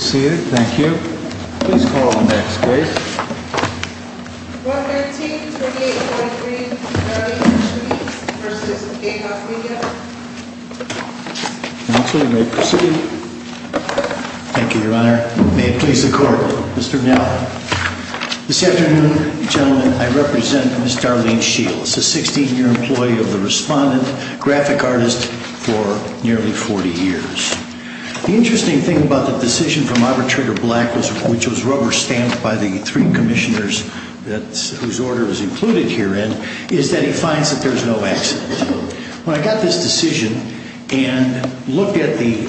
May it please the Court, Mr. Gnell. This afternoon, gentlemen, I represent Ms. Darlene Shields, a 16-year employee of the Respondent Graphic Artist for nearly 40 years. The interesting thing about the decision from Arbitrator Black, which was rubber-stamped by the three commissioners whose order was included herein, is that he finds that there's no accident. When I got this decision and looked at the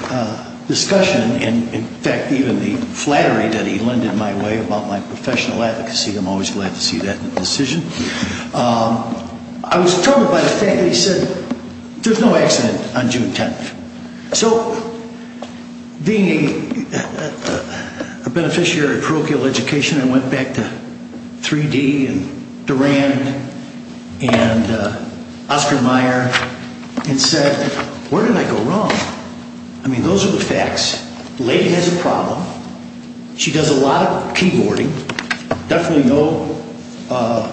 discussion and, in fact, even the flattery that he lended my way about my professional advocacy, I'm always glad to see that in a decision, I was So, being a beneficiary of parochial education, I went back to 3D and Durand and Oscar Mayer and said, where did I go wrong? I mean, those are the facts. The lady has a problem. She does a lot of keyboarding. Definitely no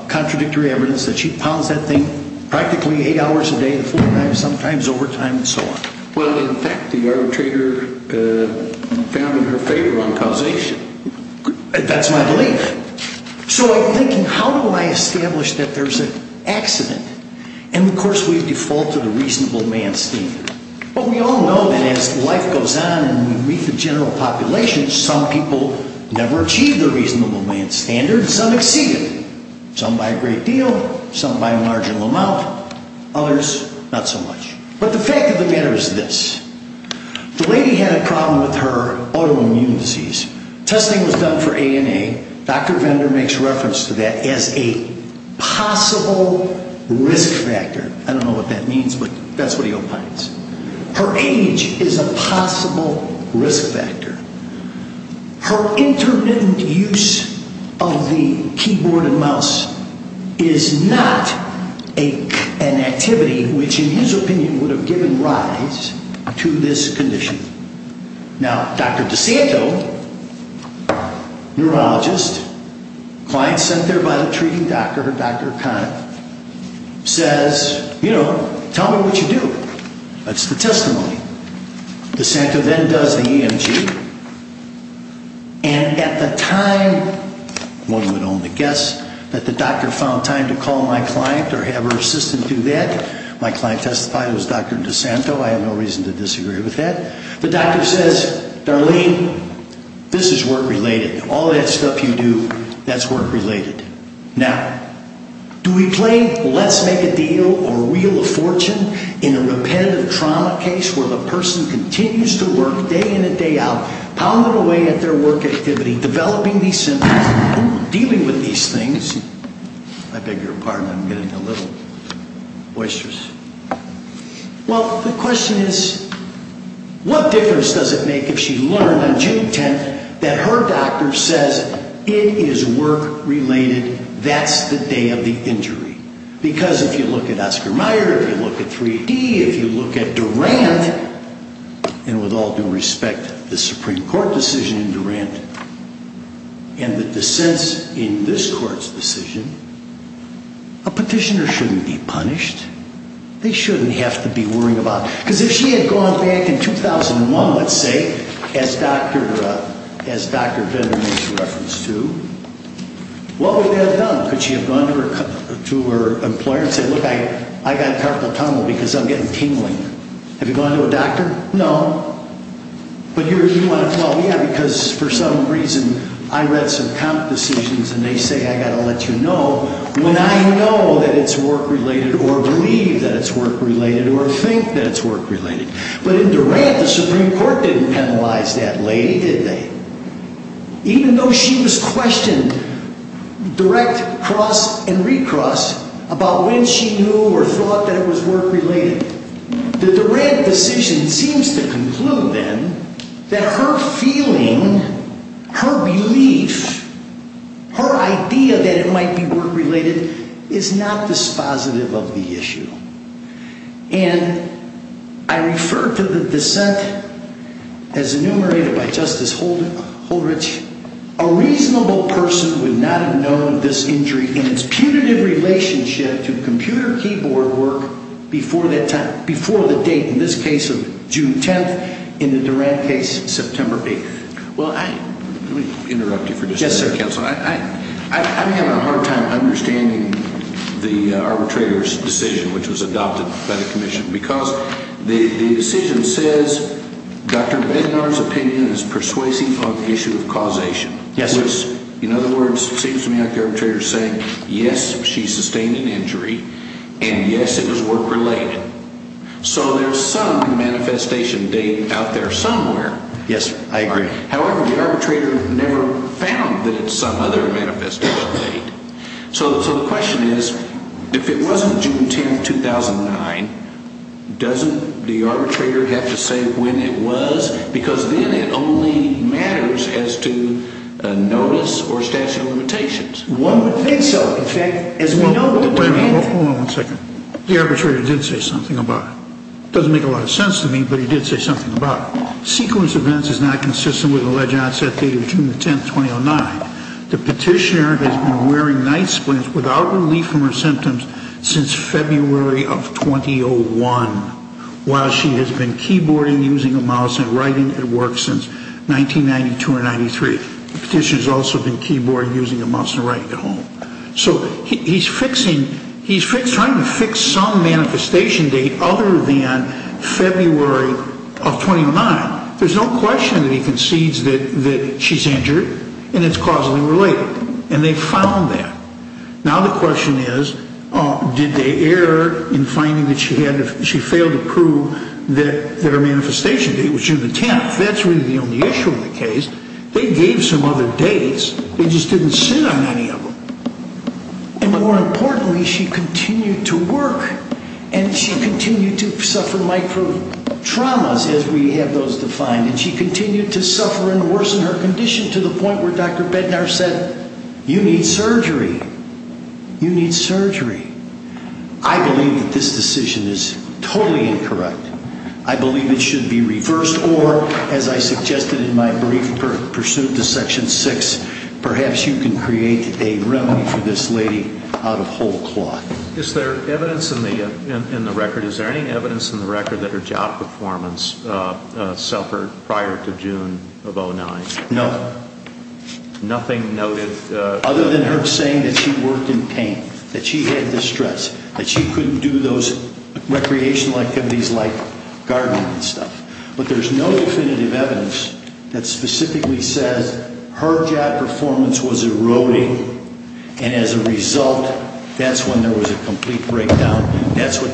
contradictory evidence that she pounds that thing practically eight hours a day, sometimes overtime and so on. Well, in fact, the arbitrator found in her favor on causation. That's my belief. So I'm thinking, how do I establish that there's an accident? And, of course, we default to the reasonable man standard. But we all know that as life goes on and we meet the general population, some people never achieve the But the fact of the matter is this. The lady had a problem with her autoimmune disease. Testing was done for ANA. Dr. Vendor makes reference to that as a possible risk factor. I don't know what that means, but that's what he opines. Her age is a possible risk factor. Her intermittent use of the keyboard and mouse is not an activity which, in his opinion, would have given rise to this condition. Now, Dr. DeSanto, neurologist, client sent there by the treating doctor, Dr. O'Connor, says, you know, tell me what you do. That's the And at the time, one would only guess, that the doctor found time to call my client or have her assistant do that. My client testified it was Dr. DeSanto. I have no reason to disagree with that. The doctor says, Darlene, this is work-related. All that stuff you do, that's work-related. Now, do we play let's make a deal or wheel of fortune in a repetitive trauma case where the person continues to work day in and day out, pounding away at their work activity, developing these symptoms, dealing with these things. I beg your pardon, I'm getting a little boisterous. Well, the question is, what difference does it make if she learned on June 10th that her doctor says, it is work-related, that's the day of the injury. Because if you look at Oscar Mayer, if you look at 3D, if you look at Durant, and with all due respect, the Supreme Court decision in Durant, and the dissents in this court's decision, a petitioner shouldn't be punished. They shouldn't have to be worrying about, because if she had gone back in 2001, let's say, as Dr. Vendor makes reference to, what would they have done? Could have said, I got carpal tunnel because I'm getting tingling. Have you gone to a doctor? No. But you want to, well, yeah, because for some reason, I read some count decisions and they say, I've got to let you know, when I know that it's work-related, or believe that it's work-related, or think that it's work-related. But in Durant, the Supreme Court didn't penalize that lady, did they? Even though she was questioned, direct, cross, and recross, about when she knew or thought that it was work-related. The Durant decision seems to conclude, then, that her feeling, her relief, her idea that it might be work-related, is not dispositive of the issue. And I refer to the dissent as enumerated by Justice Holdrich, a reasonable person would not have known of this injury in its punitive relationship to computer keyboard work before the date, in this case of June 10th, in the Durant case, September 8th. Let me interrupt you for just a second, counsel. I'm having a hard time understanding the arbitrator's decision, which was adopted by the commission, because the decision says, Dr. Vendor's opinion is persuasive of the issue of causation. In other words, it seems to me like the arbitrator is saying, yes, she sustained an injury, and yes, it was work-related. So there's some manifestation date out there somewhere. Yes, I agree. However, the arbitrator never found that it's some other manifestation date. So the question is, if it wasn't June 10th, 2009, doesn't the arbitrator have to say when it was? Because then it only matters as to notice or statute of limitations. One would think so. In fact, as we know... Wait a minute. Hold on one second. The arbitrator did say something about it. It doesn't make a lot of sense to me, but he did say something about it. Sequence events is not consistent with the alleged onset date of June 10th, 2009. The petitioner has been wearing night since February of 2001, while she has been keyboarding, using a mouse, and writing at work since 1992 or 1993. The petitioner has also been keyboarding, using a mouse, and writing at home. So he's fixing, he's trying to fix some manifestation date other than February of 2009. There's no question that he concedes that she's injured, and it's causally related. And they found that. Now the question is, did they err in finding that she failed to prove that her manifestation date was June 10th? That's really the only issue in the case. They gave some other dates, they just didn't sit on any of them. And more importantly, she continued to work, and she continued to suffer micro-traumas, as we have those defined, and she continued to suffer and worsen her condition to the point where Dr. Bednar said, you need surgery. You need surgery. I believe that this decision is totally incorrect. I believe it should be reversed, or, as I suggested in my brief pursuit to Section 6, perhaps you can create a remedy for this lady out of whole cloth. Is there evidence in the record, is there any evidence in the record that her job performance suffered prior to June of 2009? No. Nothing noted? Other than her saying that she worked in pain, that she had distress, that she couldn't do those recreational activities like gardening and stuff. But there's no definitive evidence that specifically says her job performance was eroding, and as a result, that's when there was a complete breakdown. That's what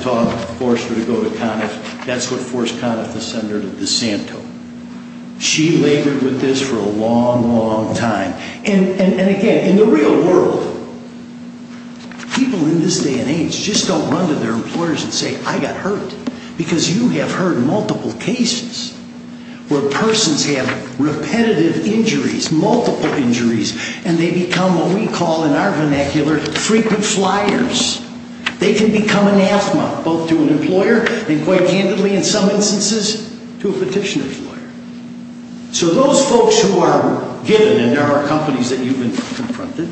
forced her to go to Conniff. That's what forced Conniff to send her to DeSanto. She labored with this for a long, long time. And again, in the real world, people in this day and age just don't run to their employers and say, I got hurt, because you have heard multiple cases where persons have repetitive injuries, multiple injuries, and they become what we call in our vernacular frequent flyers. They can become an asthma, both to an employer, and quite candidly in some instances, to a petitioner's lawyer. So those folks who are given, and there are companies that you've confronted,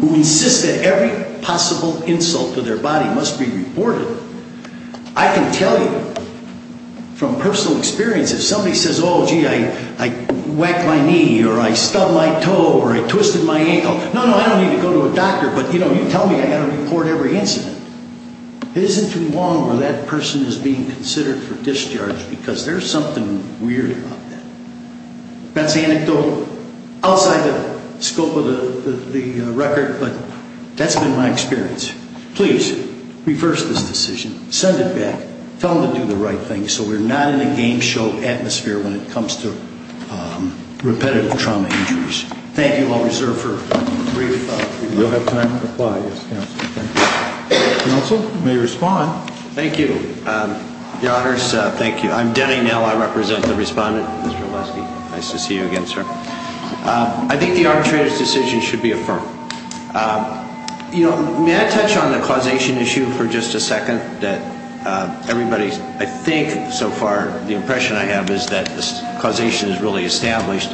who insist that every possible insult to their body must be reported, I can tell you from personal experience, if somebody says, oh, gee, I whacked my knee, or I stubbed my toe, or I twisted my ankle, no, no, I don't need to go to a doctor, but, you know, you tell me I've got to report every incident. It isn't too long where that person is being considered for discharge, because there's something weird about that. That's anecdotal. Outside the scope of the record, but that's been my experience. Please, reverse this decision. Send it back. Tell them to do the right thing, so we're not in a game show atmosphere when it comes to repetitive trauma injuries. Thank you. I'll reserve for a brief... We'll have time to reply, yes, Counsel. Counsel, you may respond. Thank you. Your Honors, thank you. I'm Denny Nell. I represent the respondent, Mr. Nell. I think the arbitrator's decision should be affirmed. You know, may I touch on the causation issue for just a second, that everybody, I think, so far, the impression I have is that this causation is really established.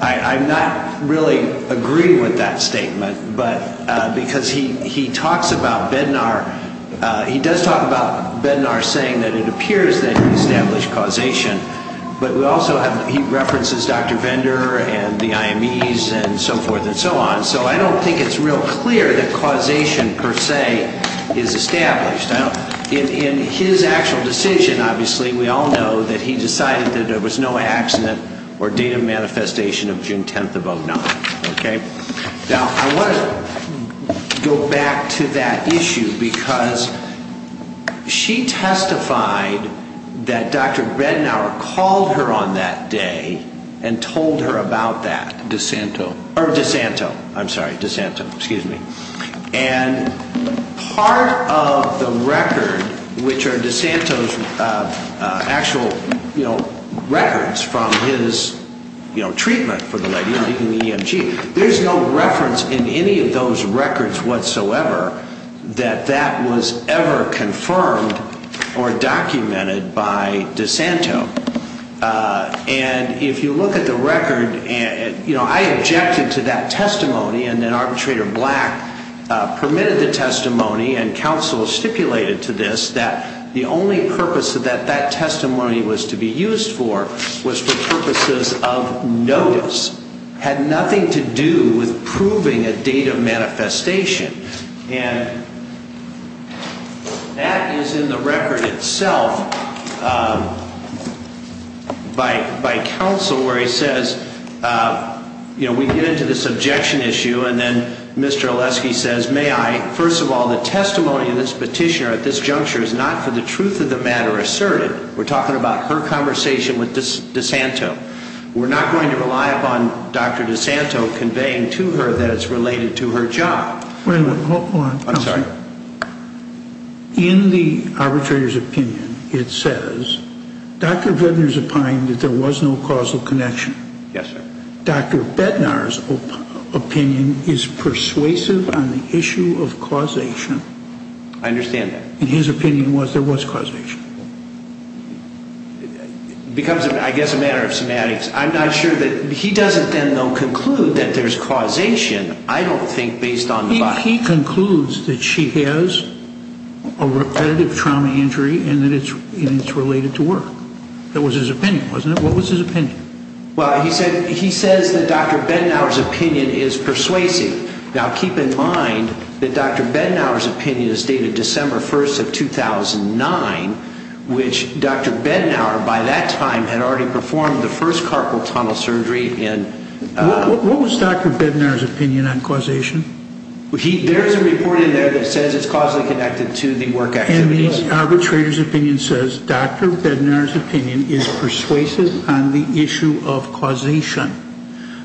I'm not really agreeing with that statement, but because he talks about Bednar, he does talk about Bednar saying that it appears that there's an established causation, but we also have, he references Dr. Vendor and the IMEs and so forth and so on, so I don't think it's real clear that causation, per se, is established. In his actual decision, obviously, we all know that he decided that there was no accident or date of manifestation of June 10th of 09. Now, I want to go back to that that Dr. Bednar called her on that day and told her about that. DeSanto. Or DeSanto. I'm sorry, DeSanto, excuse me. And part of the record, which are DeSanto's actual, you know, records from his, you know, treatment for the lady in the EMG, there's no confirmed or documented by DeSanto. And if you look at the record, you know, I objected to that testimony and then Arbitrator Black permitted the testimony and counsel stipulated to this that the only purpose that that testimony was to be used for was for purposes of notice. Had nothing to do with proving a date of manifestation. And that is in the record itself by counsel where he says, you know, we get into this objection issue and then Mr. Oleski says, may I, first of all, the testimony of this petitioner at this juncture is not for the truth of the matter asserted. We're talking about her conversation with DeSanto. We're not going to rely upon Dr. DeSanto conveying to her that it's related to her job. Wait a minute, hold on. I'm sorry. In the arbitrator's opinion, it says Dr. Bednar's opined that there was no causal connection. Yes, sir. Dr. Bednar's opinion is persuasive on the issue of causation. I understand that. And his opinion was there was causation. It becomes, I guess, a matter of semantics. I'm not sure that he doesn't then, though, conclude that there's causation. I don't think based on the body. He concludes that she has a repetitive trauma injury and that it's related to work. That was his opinion, wasn't it? What was his opinion? Well, he said, he says that Dr. Bednar's opinion is persuasive. Now, keep in mind that Dr. Bednar's opinion is dated December 1st of 2009, which Dr. Bednar, by that time, had already performed the first carpal tunnel surgery. What was Dr. Bednar's opinion on causation? There's a report in there that says it's causally connected to the work activities. And the arbitrator's opinion says Dr. Bednar's opinion is persuasive on the issue of causation.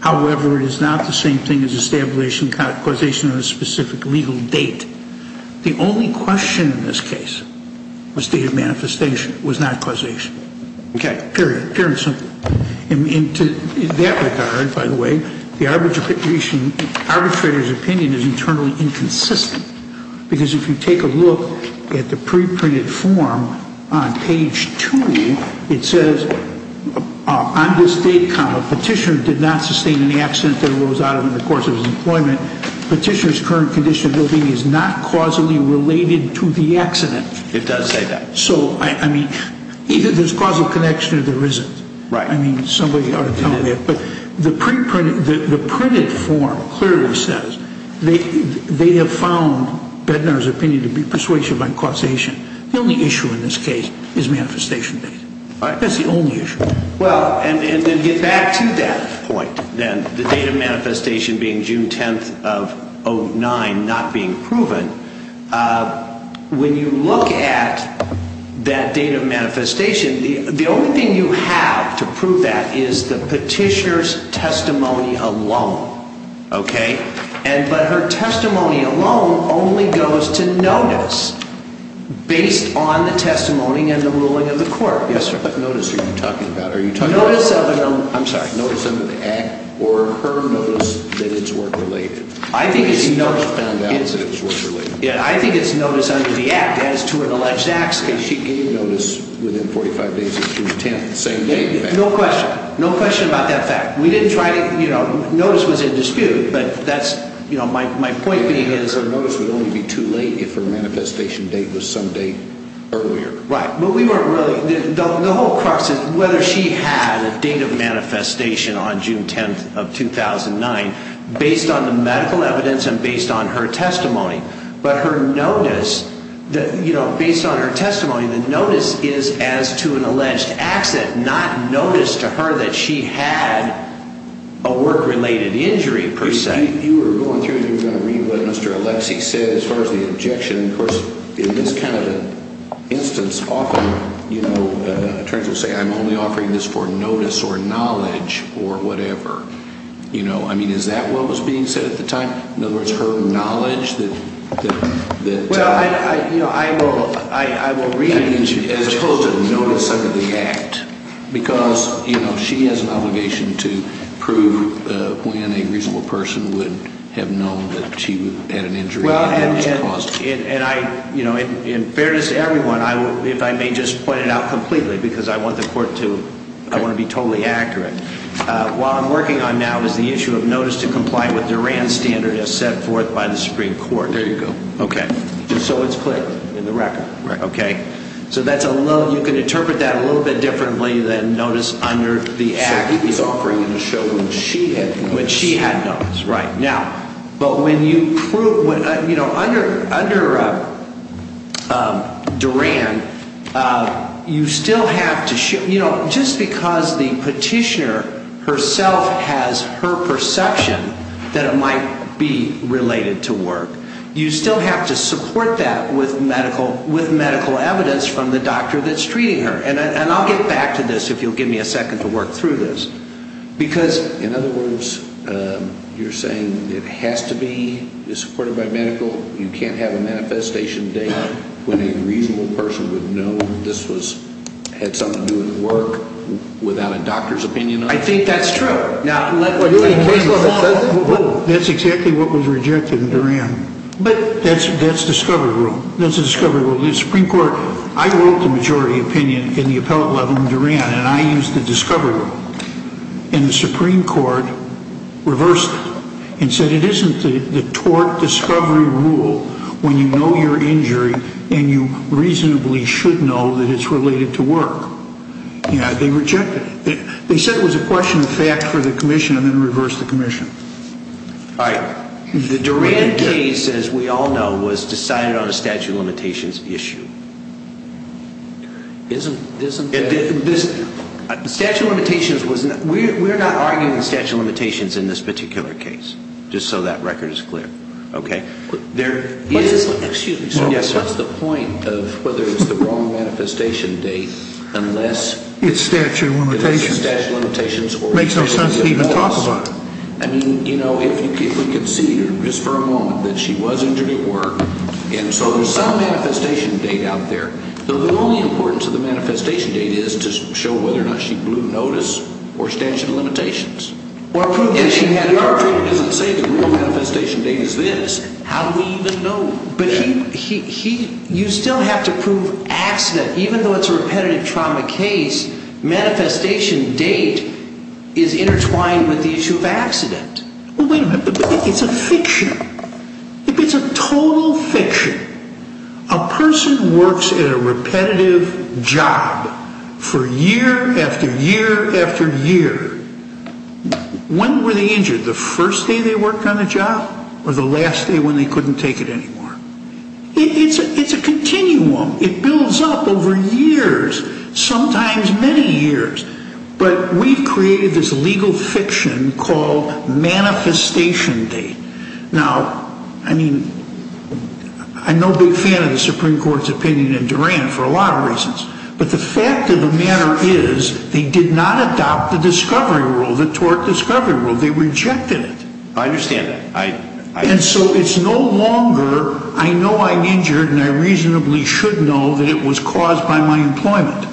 However, it is not the same thing as establishing causation on a specific legal date. The only question in this case was date of manifestation. It was not causation. Okay. Period. In that regard, by the way, the arbitrator's opinion is internally inconsistent. Because if you take a look at the preprinted form on page 2, it says, on this date, Petitioner did not sustain any accident that arose out of him in the course of his employment. Petitioner's current condition of ill-being is not causally related to the accident. It does say that. So, I mean, either there's causal connection or there isn't. Right. I mean, somebody ought to tell me. But the printed form clearly says they have found Bednar's opinion to be persuasive on causation. The only issue in this case is manifestation date. All right. That's the only issue. Well, and to get back to that point, then, the date of manifestation being June 10th of 09, not being proven, when you look at that date of manifestation, the only thing you have to prove that is the petitioner's testimony alone. Okay. But her testimony alone only goes to notice based on the testimony and the ruling of the court. What notice are you talking about? Notice under the Act or her notice that it's work-related? I think it's notice under the Act as to an alleged accident. She gave notice within 45 days of June 10th, the same day, in fact. No question. No question about that fact. We didn't try to, you know, notice was in dispute. But that's, you know, my point being is her notice would only be too late if her manifestation date was some day earlier. Right. But we weren't really, the whole crux is whether she had a date of manifestation on June 10th of 2009, based on the medical evidence and based on her testimony. But her notice, you know, based on her testimony, the notice is as to an alleged accident, not notice to her that she had a work-related injury, per se. You were going through, you were going to read what Mr. Alexie said as far as the objection. Of course, in this kind of instance, often, you know, attorneys will say, I'm only offering this for notice or knowledge or whatever. You know, I mean, is that what was being said at the time? In other words, her knowledge that. Well, you know, I will read it. As opposed to notice under the act. Because, you know, she has an obligation to prove when a reasonable person would have known that she had an injury. Well, and I, you know, in fairness to everyone, if I may just point it out completely, because I want the court to, I want to be totally accurate. What I'm working on now is the issue of notice to comply with Duran's standard as set forth by the Supreme Court. There you go. Okay. So it's clear in the record. Right. Okay. So that's a little, you can interpret that a little bit differently than notice under the act. So he was offering to show when she had noticed. When she had noticed. Right. Now, but when you prove, you know, under Duran, you still have to, you know, just because the petitioner herself has her perception that it might be related to work, you still have to support that with medical evidence from the doctor that's treating her. And I'll get back to this if you'll give me a second to work through this. Because, in other words, you're saying it has to be supported by medical, you can't have a manifestation date when a reasonable person would know this had something to do with work without a doctor's opinion on it? I think that's true. Now, let me tell you something. That's exactly what was rejected in Duran. But that's discovery rule. That's discovery rule. The Supreme Court, I wrote the majority opinion in the appellate level in Duran, and I used the discovery rule. And the Supreme Court reversed it and said it isn't the tort discovery rule when you know your injury and you reasonably should know that it's related to work. You know, they rejected it. They said it was a question of fact for the commission and then reversed the commission. All right. The Duran case, as we all know, was decided on a statute of limitations issue. Isn't that? Statute of limitations was not. We're not arguing statute of limitations in this particular case, just so that record is clear. Okay. There is. Excuse me, sir. Yes, sir. What's the point of whether it's the wrong manifestation date unless. It's statute of limitations. It's statute of limitations. It makes no sense to even talk about it. I mean, you know, if we could see here just for a moment that she was injured at work and so there's some manifestation date out there. So the only importance of the manifestation date is to show whether or not she blew notice or statute of limitations. Or prove that she had an argument. And if the court doesn't say the real manifestation date is this, how do we even know? But you still have to prove accident. Even though it's a repetitive trauma case, manifestation date is intertwined with the issue of accident. Well, wait a minute. But it's a fiction. It's a total fiction. A person works at a repetitive job for year after year after year. When were they injured? The first day they worked on the job or the last day when they couldn't take it anymore? It's a continuum. It builds up over years, sometimes many years. But we've created this legal fiction called manifestation date. Now, I mean, I'm no big fan of the Supreme Court's opinion in Duran for a lot of reasons. But the fact of the matter is they did not adopt the discovery rule, the tort discovery rule. They rejected it. I understand that. And so it's no longer I know I'm injured and I reasonably should know that it was caused by my employment.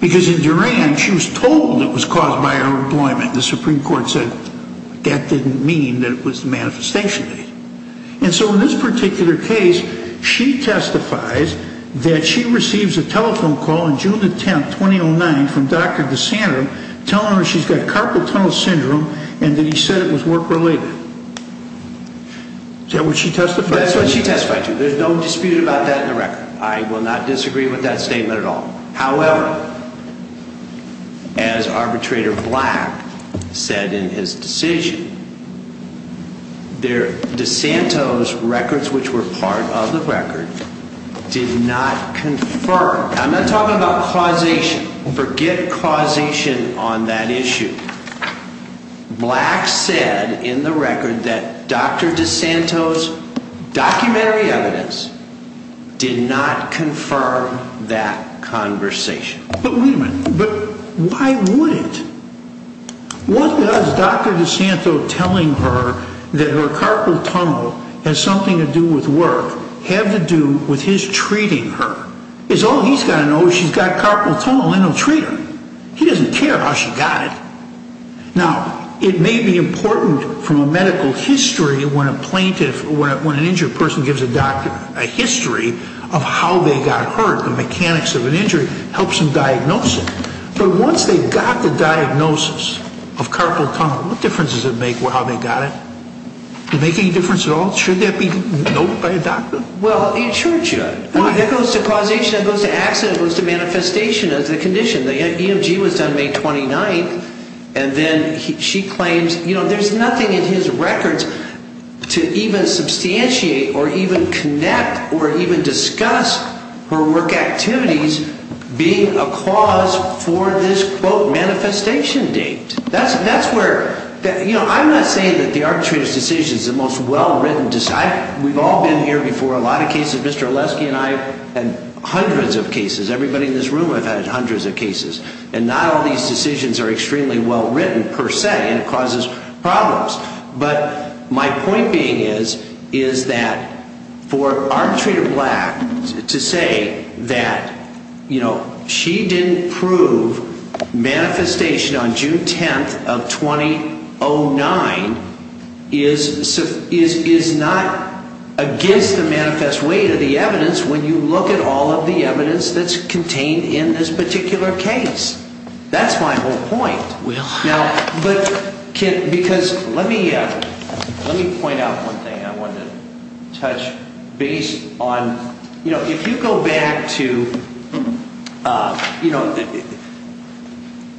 Because in Duran she was told it was caused by her employment. The Supreme Court said that didn't mean that it was the manifestation date. And so in this particular case, she testifies that she receives a telephone call on June the 10th, 2009, from Dr. DeSandro telling her she's got carpal tunnel syndrome and that he said it was work-related. Is that what she testified to? That's what she testified to. There's no dispute about that in the record. I will not disagree with that statement at all. However, as arbitrator Black said in his decision, DeSandro's records, which were part of the record, did not confirm. I'm not talking about causation. Forget causation on that issue. Black said in the record that Dr. DeSandro's documentary evidence did not confirm that conversation. But wait a minute. But why would it? What does Dr. DeSandro telling her that her carpal tunnel has something to do with work have to do with his treating her? All he's got to know is she's got carpal tunnel and he'll treat her. He doesn't care how she got it. Now, it may be important from a medical history when an injured person gives a doctor a history of how they got hurt, the mechanics of an injury, helps them diagnose it. But once they've got the diagnosis of carpal tunnel, what difference does it make how they got it? Does it make any difference at all? Should that be noted by a doctor? Well, it sure should. Why? It goes to causation. It goes to accident. It goes to manifestation as a condition. The EMG was done May 29th, and then she claims there's nothing in his records to even substantiate or even connect or even discuss her work activities being a cause for this, quote, manifestation date. I'm not saying that the arbitrator's decision is the most well-written decision. We've all been here before, a lot of cases. Mr. Oleski and I have had hundreds of cases. Everybody in this room has had hundreds of cases. And not all these decisions are extremely well-written per se, and it causes problems. But my point being is that for arbitrator Black to say that she didn't prove manifestation on June 10th of 2009 is not against the manifest weight of the evidence when you look at all of the evidence that's contained in this particular case. That's my whole point. Because let me point out one thing I wanted to touch base on. If you go back to, you know,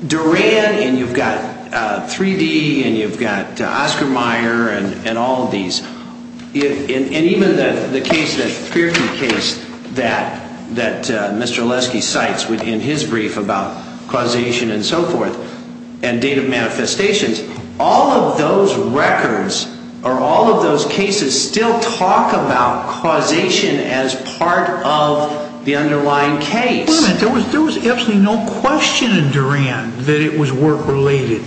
Duran and you've got 3D and you've got Oscar Mayer and all of these, and even the case, that Fierke case that Mr. Oleski cites within his brief about causation and so forth and date of manifestations, all of those records or all of those cases still talk about causation as part of the underlying case. There was absolutely no question in Duran that it was work-related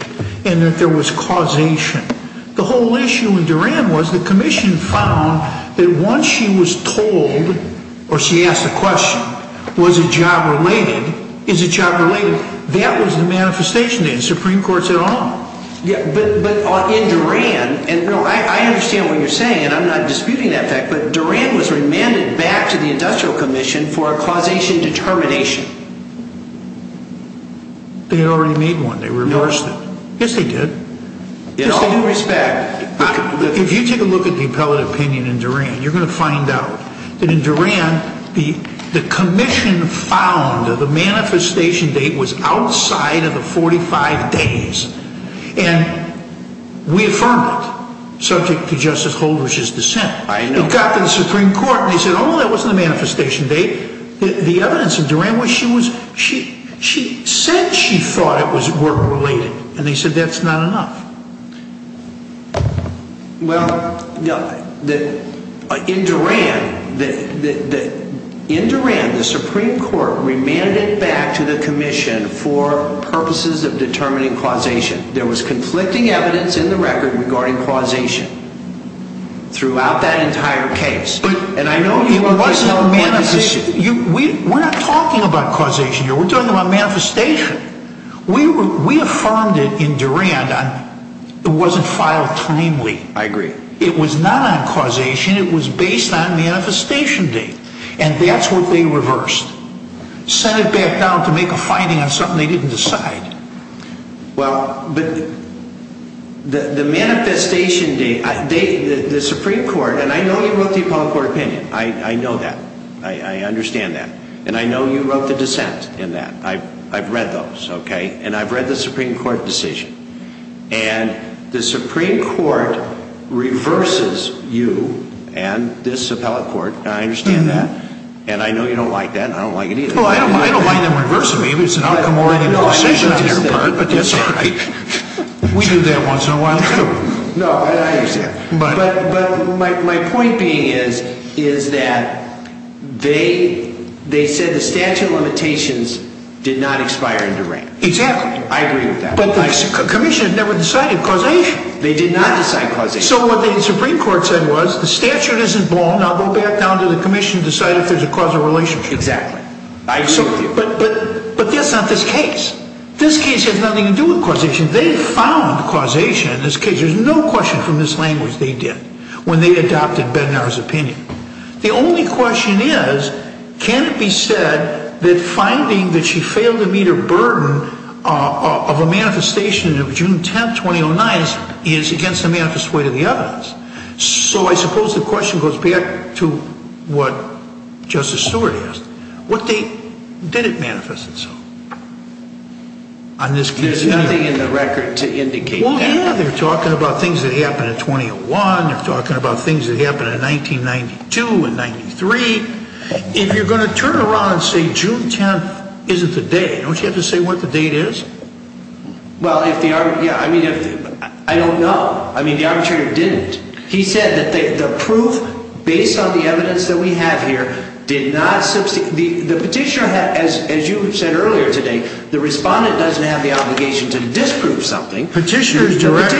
and that there was causation. The whole issue in Duran was the commission found that once she was told, or she asked a question, was it job-related, is it job-related, that was the manifestation that the Supreme Court said on. Yeah, but in Duran, and I understand what you're saying and I'm not disputing that fact, but Duran was remanded back to the Industrial Commission for a causation determination. They had already made one. They reversed it. No. Yes, they did. In all respect, if you take a look at the appellate opinion in Duran, you're going to find out that in Duran, the commission found the manifestation date was outside of the 45 days, and we affirmed it, subject to Justice Holdridge's dissent. I know. It got to the Supreme Court and they said, oh, that wasn't the manifestation date. The evidence in Duran was she said she thought it was work-related, and they said that's not enough. Well, in Duran, the Supreme Court remanded it back to the commission for purposes of determining causation. There was conflicting evidence in the record regarding causation throughout that entire case. We're not talking about causation here. We're talking about manifestation. We affirmed it in Duran. It wasn't filed timely. I agree. It was not on causation. It was based on manifestation date, and that's what they reversed. Sent it back down to make a finding on something they didn't decide. Well, but the manifestation date, the Supreme Court, and I know you wrote the appellate court opinion. I know that. I understand that. And I know you wrote the dissent in that. I've read those, okay? And I've read the Supreme Court decision. And the Supreme Court reverses you and this appellate court, and I understand that. And I know you don't like that, and I don't like it either. Well, I don't mind them reversing me if it's an outcome already in the decision on their part, but that's all right. We do that once in a while, too. No, I understand. But my point being is that they said the statute of limitations did not expire in Duran. Exactly. I agree with that. But the commission had never decided causation. They did not decide causation. So what the Supreme Court said was the statute isn't wrong. Now go back down to the commission and decide if there's a causal relationship. Exactly. I agree with you. But that's not this case. This case has nothing to do with causation. They found causation in this case. There's no question from this language they did when they adopted Bednar's opinion. The only question is, can it be said that finding that she failed to meet her burden of a manifestation of June 10th, 2009, is against the manifest way to the evidence? So I suppose the question goes back to what Justice Stewart asked. What date did it manifest itself? There's nothing in the record to indicate that. Well, yeah, they're talking about things that happened in 2001. They're talking about things that happened in 1992 and 1993. If you're going to turn around and say June 10th isn't the date, don't you have to say what the date is? Well, I don't know. I mean, the arbitrator didn't. He said that the proof, based on the evidence that we have here, did not substitute. The petitioner, as you said earlier today, the respondent doesn't have the obligation to disprove something. Petitioner's direct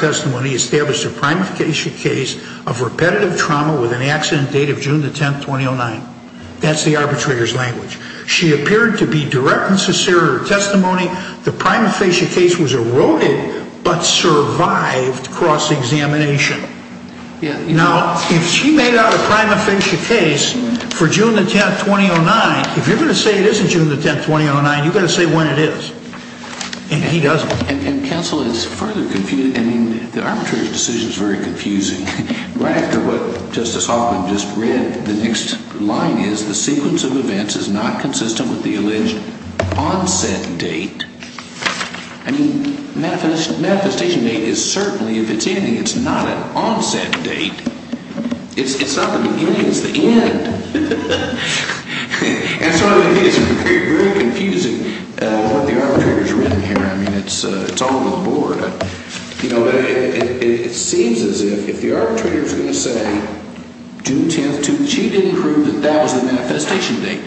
testimony established a primification case of repetitive trauma with an accident date of June 10th, 2009. That's the arbitrator's language. She appeared to be direct and sincere in her testimony. The primifacia case was eroded but survived cross-examination. Now, if she made out a primifacia case for June 10th, 2009, if you're going to say it isn't June 10th, 2009, you've got to say when it is. And he doesn't. And counsel, it's further confusing. I mean, the arbitrator's decision is very confusing. Right after what Justice Hoffman just read, the next line is, the sequence of events is not consistent with the alleged onset date. I mean, manifestation date is certainly, if it's ending, it's not an onset date. It's not the beginning. It's the end. And so it is very confusing what the arbitrator's written here. I mean, it's all over the board. You know, it seems as if if the arbitrator is going to say June 10th, 2009, she didn't prove that that was the manifestation date.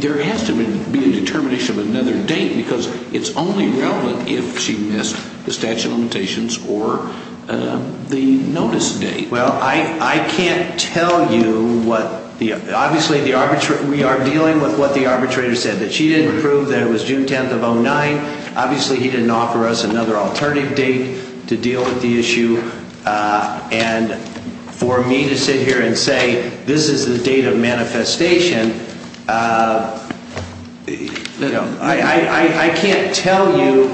There has to be a determination of another date because it's only relevant if she missed the statute of limitations or the notice date. Well, I can't tell you what the – obviously, we are dealing with what the arbitrator said, that she didn't prove that it was June 10th of 2009. Obviously, he didn't offer us another alternative date to deal with the issue. And for me to sit here and say this is the date of manifestation, you know, I can't tell you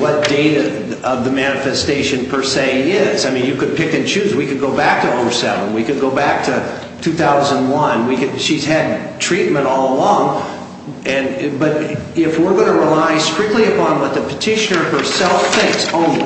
what date of the manifestation per se is. I mean, you could pick and choose. We could go back to 07. We could go back to 2001. She's had treatment all along. But if we're going to rely strictly upon what the petitioner herself thinks only,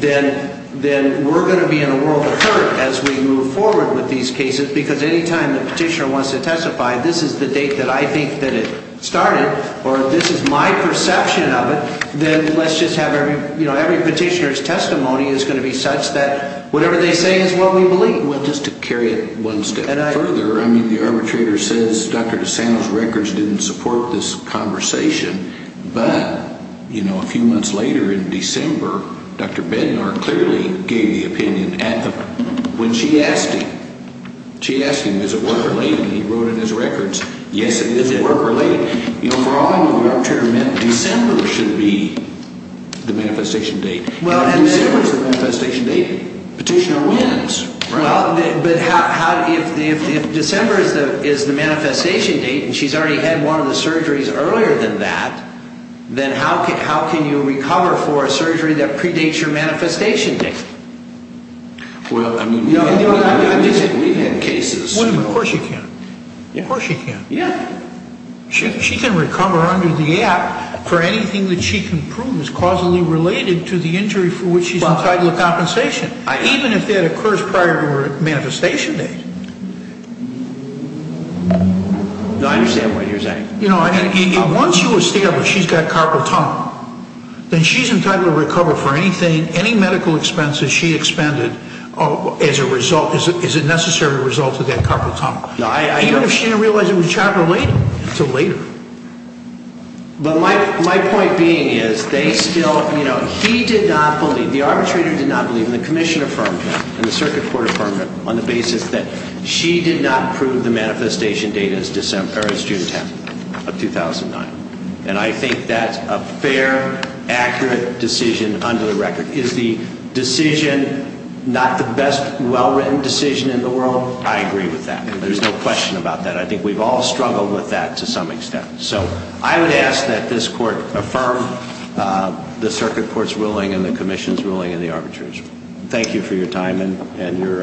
then we're going to be in a world of hurt as we move forward with these cases because any time the petitioner wants to testify, this is the date that I think that it started or this is my perception of it, then let's just have every – you know, every petitioner's testimony is going to be such that whatever they say is what we believe. Well, just to carry it one step further, I mean, the arbitrator says Dr. DeSanto's records didn't support this conversation. But, you know, a few months later in December, Dr. Bednar clearly gave the opinion at the – when she asked him. She asked him, is it work-related? And he wrote in his records, yes, it is work-related. You know, for all I know, the arbitrator meant December should be the manifestation date. And December's the manifestation date. Petitioner wins. Well, but how – if December is the manifestation date and she's already had one of the surgeries earlier than that, then how can you recover for a surgery that predates your manifestation date? Well, I mean, we've had cases. Well, of course you can. Of course you can. Yeah. She can recover under the act for anything that she can prove is causally related to the injury for which she's entitled a compensation, even if that occurs prior to her manifestation date. No, I understand what you're saying. You know, once you establish she's got carpal tunnel, then she's entitled to recover for anything, any medical expenses she expended as a result – as a necessary result of that carpal tunnel. No, I – Even if she didn't realize it was charcoal-related until later. But my point being is they still – you know, he did not believe – the arbitrator did not believe, and the commission affirmed that, and the circuit court affirmed that, on the basis that she did not prove the manifestation date as June 10th of 2009. And I think that's a fair, accurate decision under the record. Is the decision not the best, well-written decision in the world? I agree with that. There's no question about that. I think we've all struggled with that to some extent. So I would ask that this court affirm the circuit court's ruling and the commission's ruling and the arbitrator's. Thank you for your time and your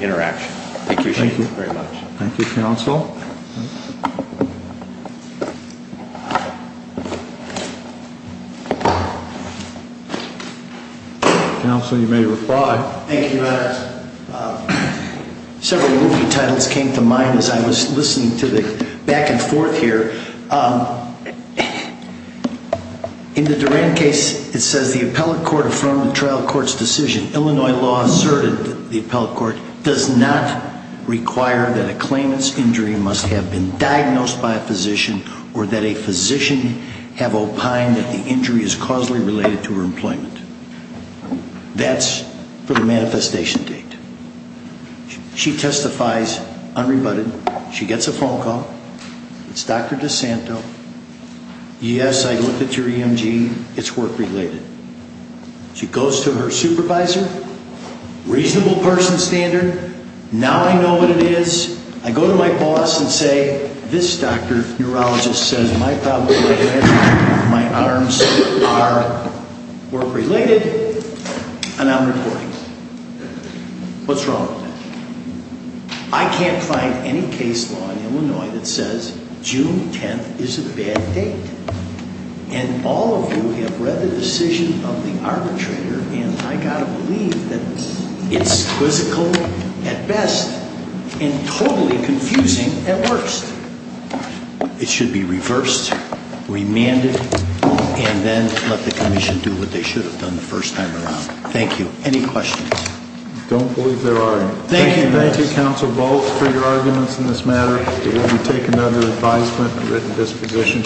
interaction. Thank you very much. Thank you. Thank you, counsel. Counsel, you may reply. Thank you. Several movie titles came to mind as I was listening to the back and forth here. In the Duran case, it says the appellate court affirmed the trial court's decision. Illinois law asserted that the appellate court does not require that a claimant's injury must have been diagnosed by a physician or that a physician have opined that the injury is causally related to her employment. That's for the manifestation date. She testifies unrebutted. She gets a phone call. It's Dr. DeSanto. Yes, I looked at your EMG. It's work-related. She goes to her supervisor. Reasonable person standard. Now I know what it is. I go to my boss and say, this doctor, neurologist, says my problem is my arms are work-related, and I'm reporting. What's wrong with that? I can't find any case law in Illinois that says June 10th is a bad date. And all of you have read the decision of the arbitrator, and I've got to believe that it's quizzical at best. And totally confusing at worst. It should be reversed, remanded, and then let the commission do what they should have done the first time around. Thank you. Any questions? I don't believe there are any. Thank you, Counsel Volz, for your arguments in this matter. It will be taken under advisement and written disposition.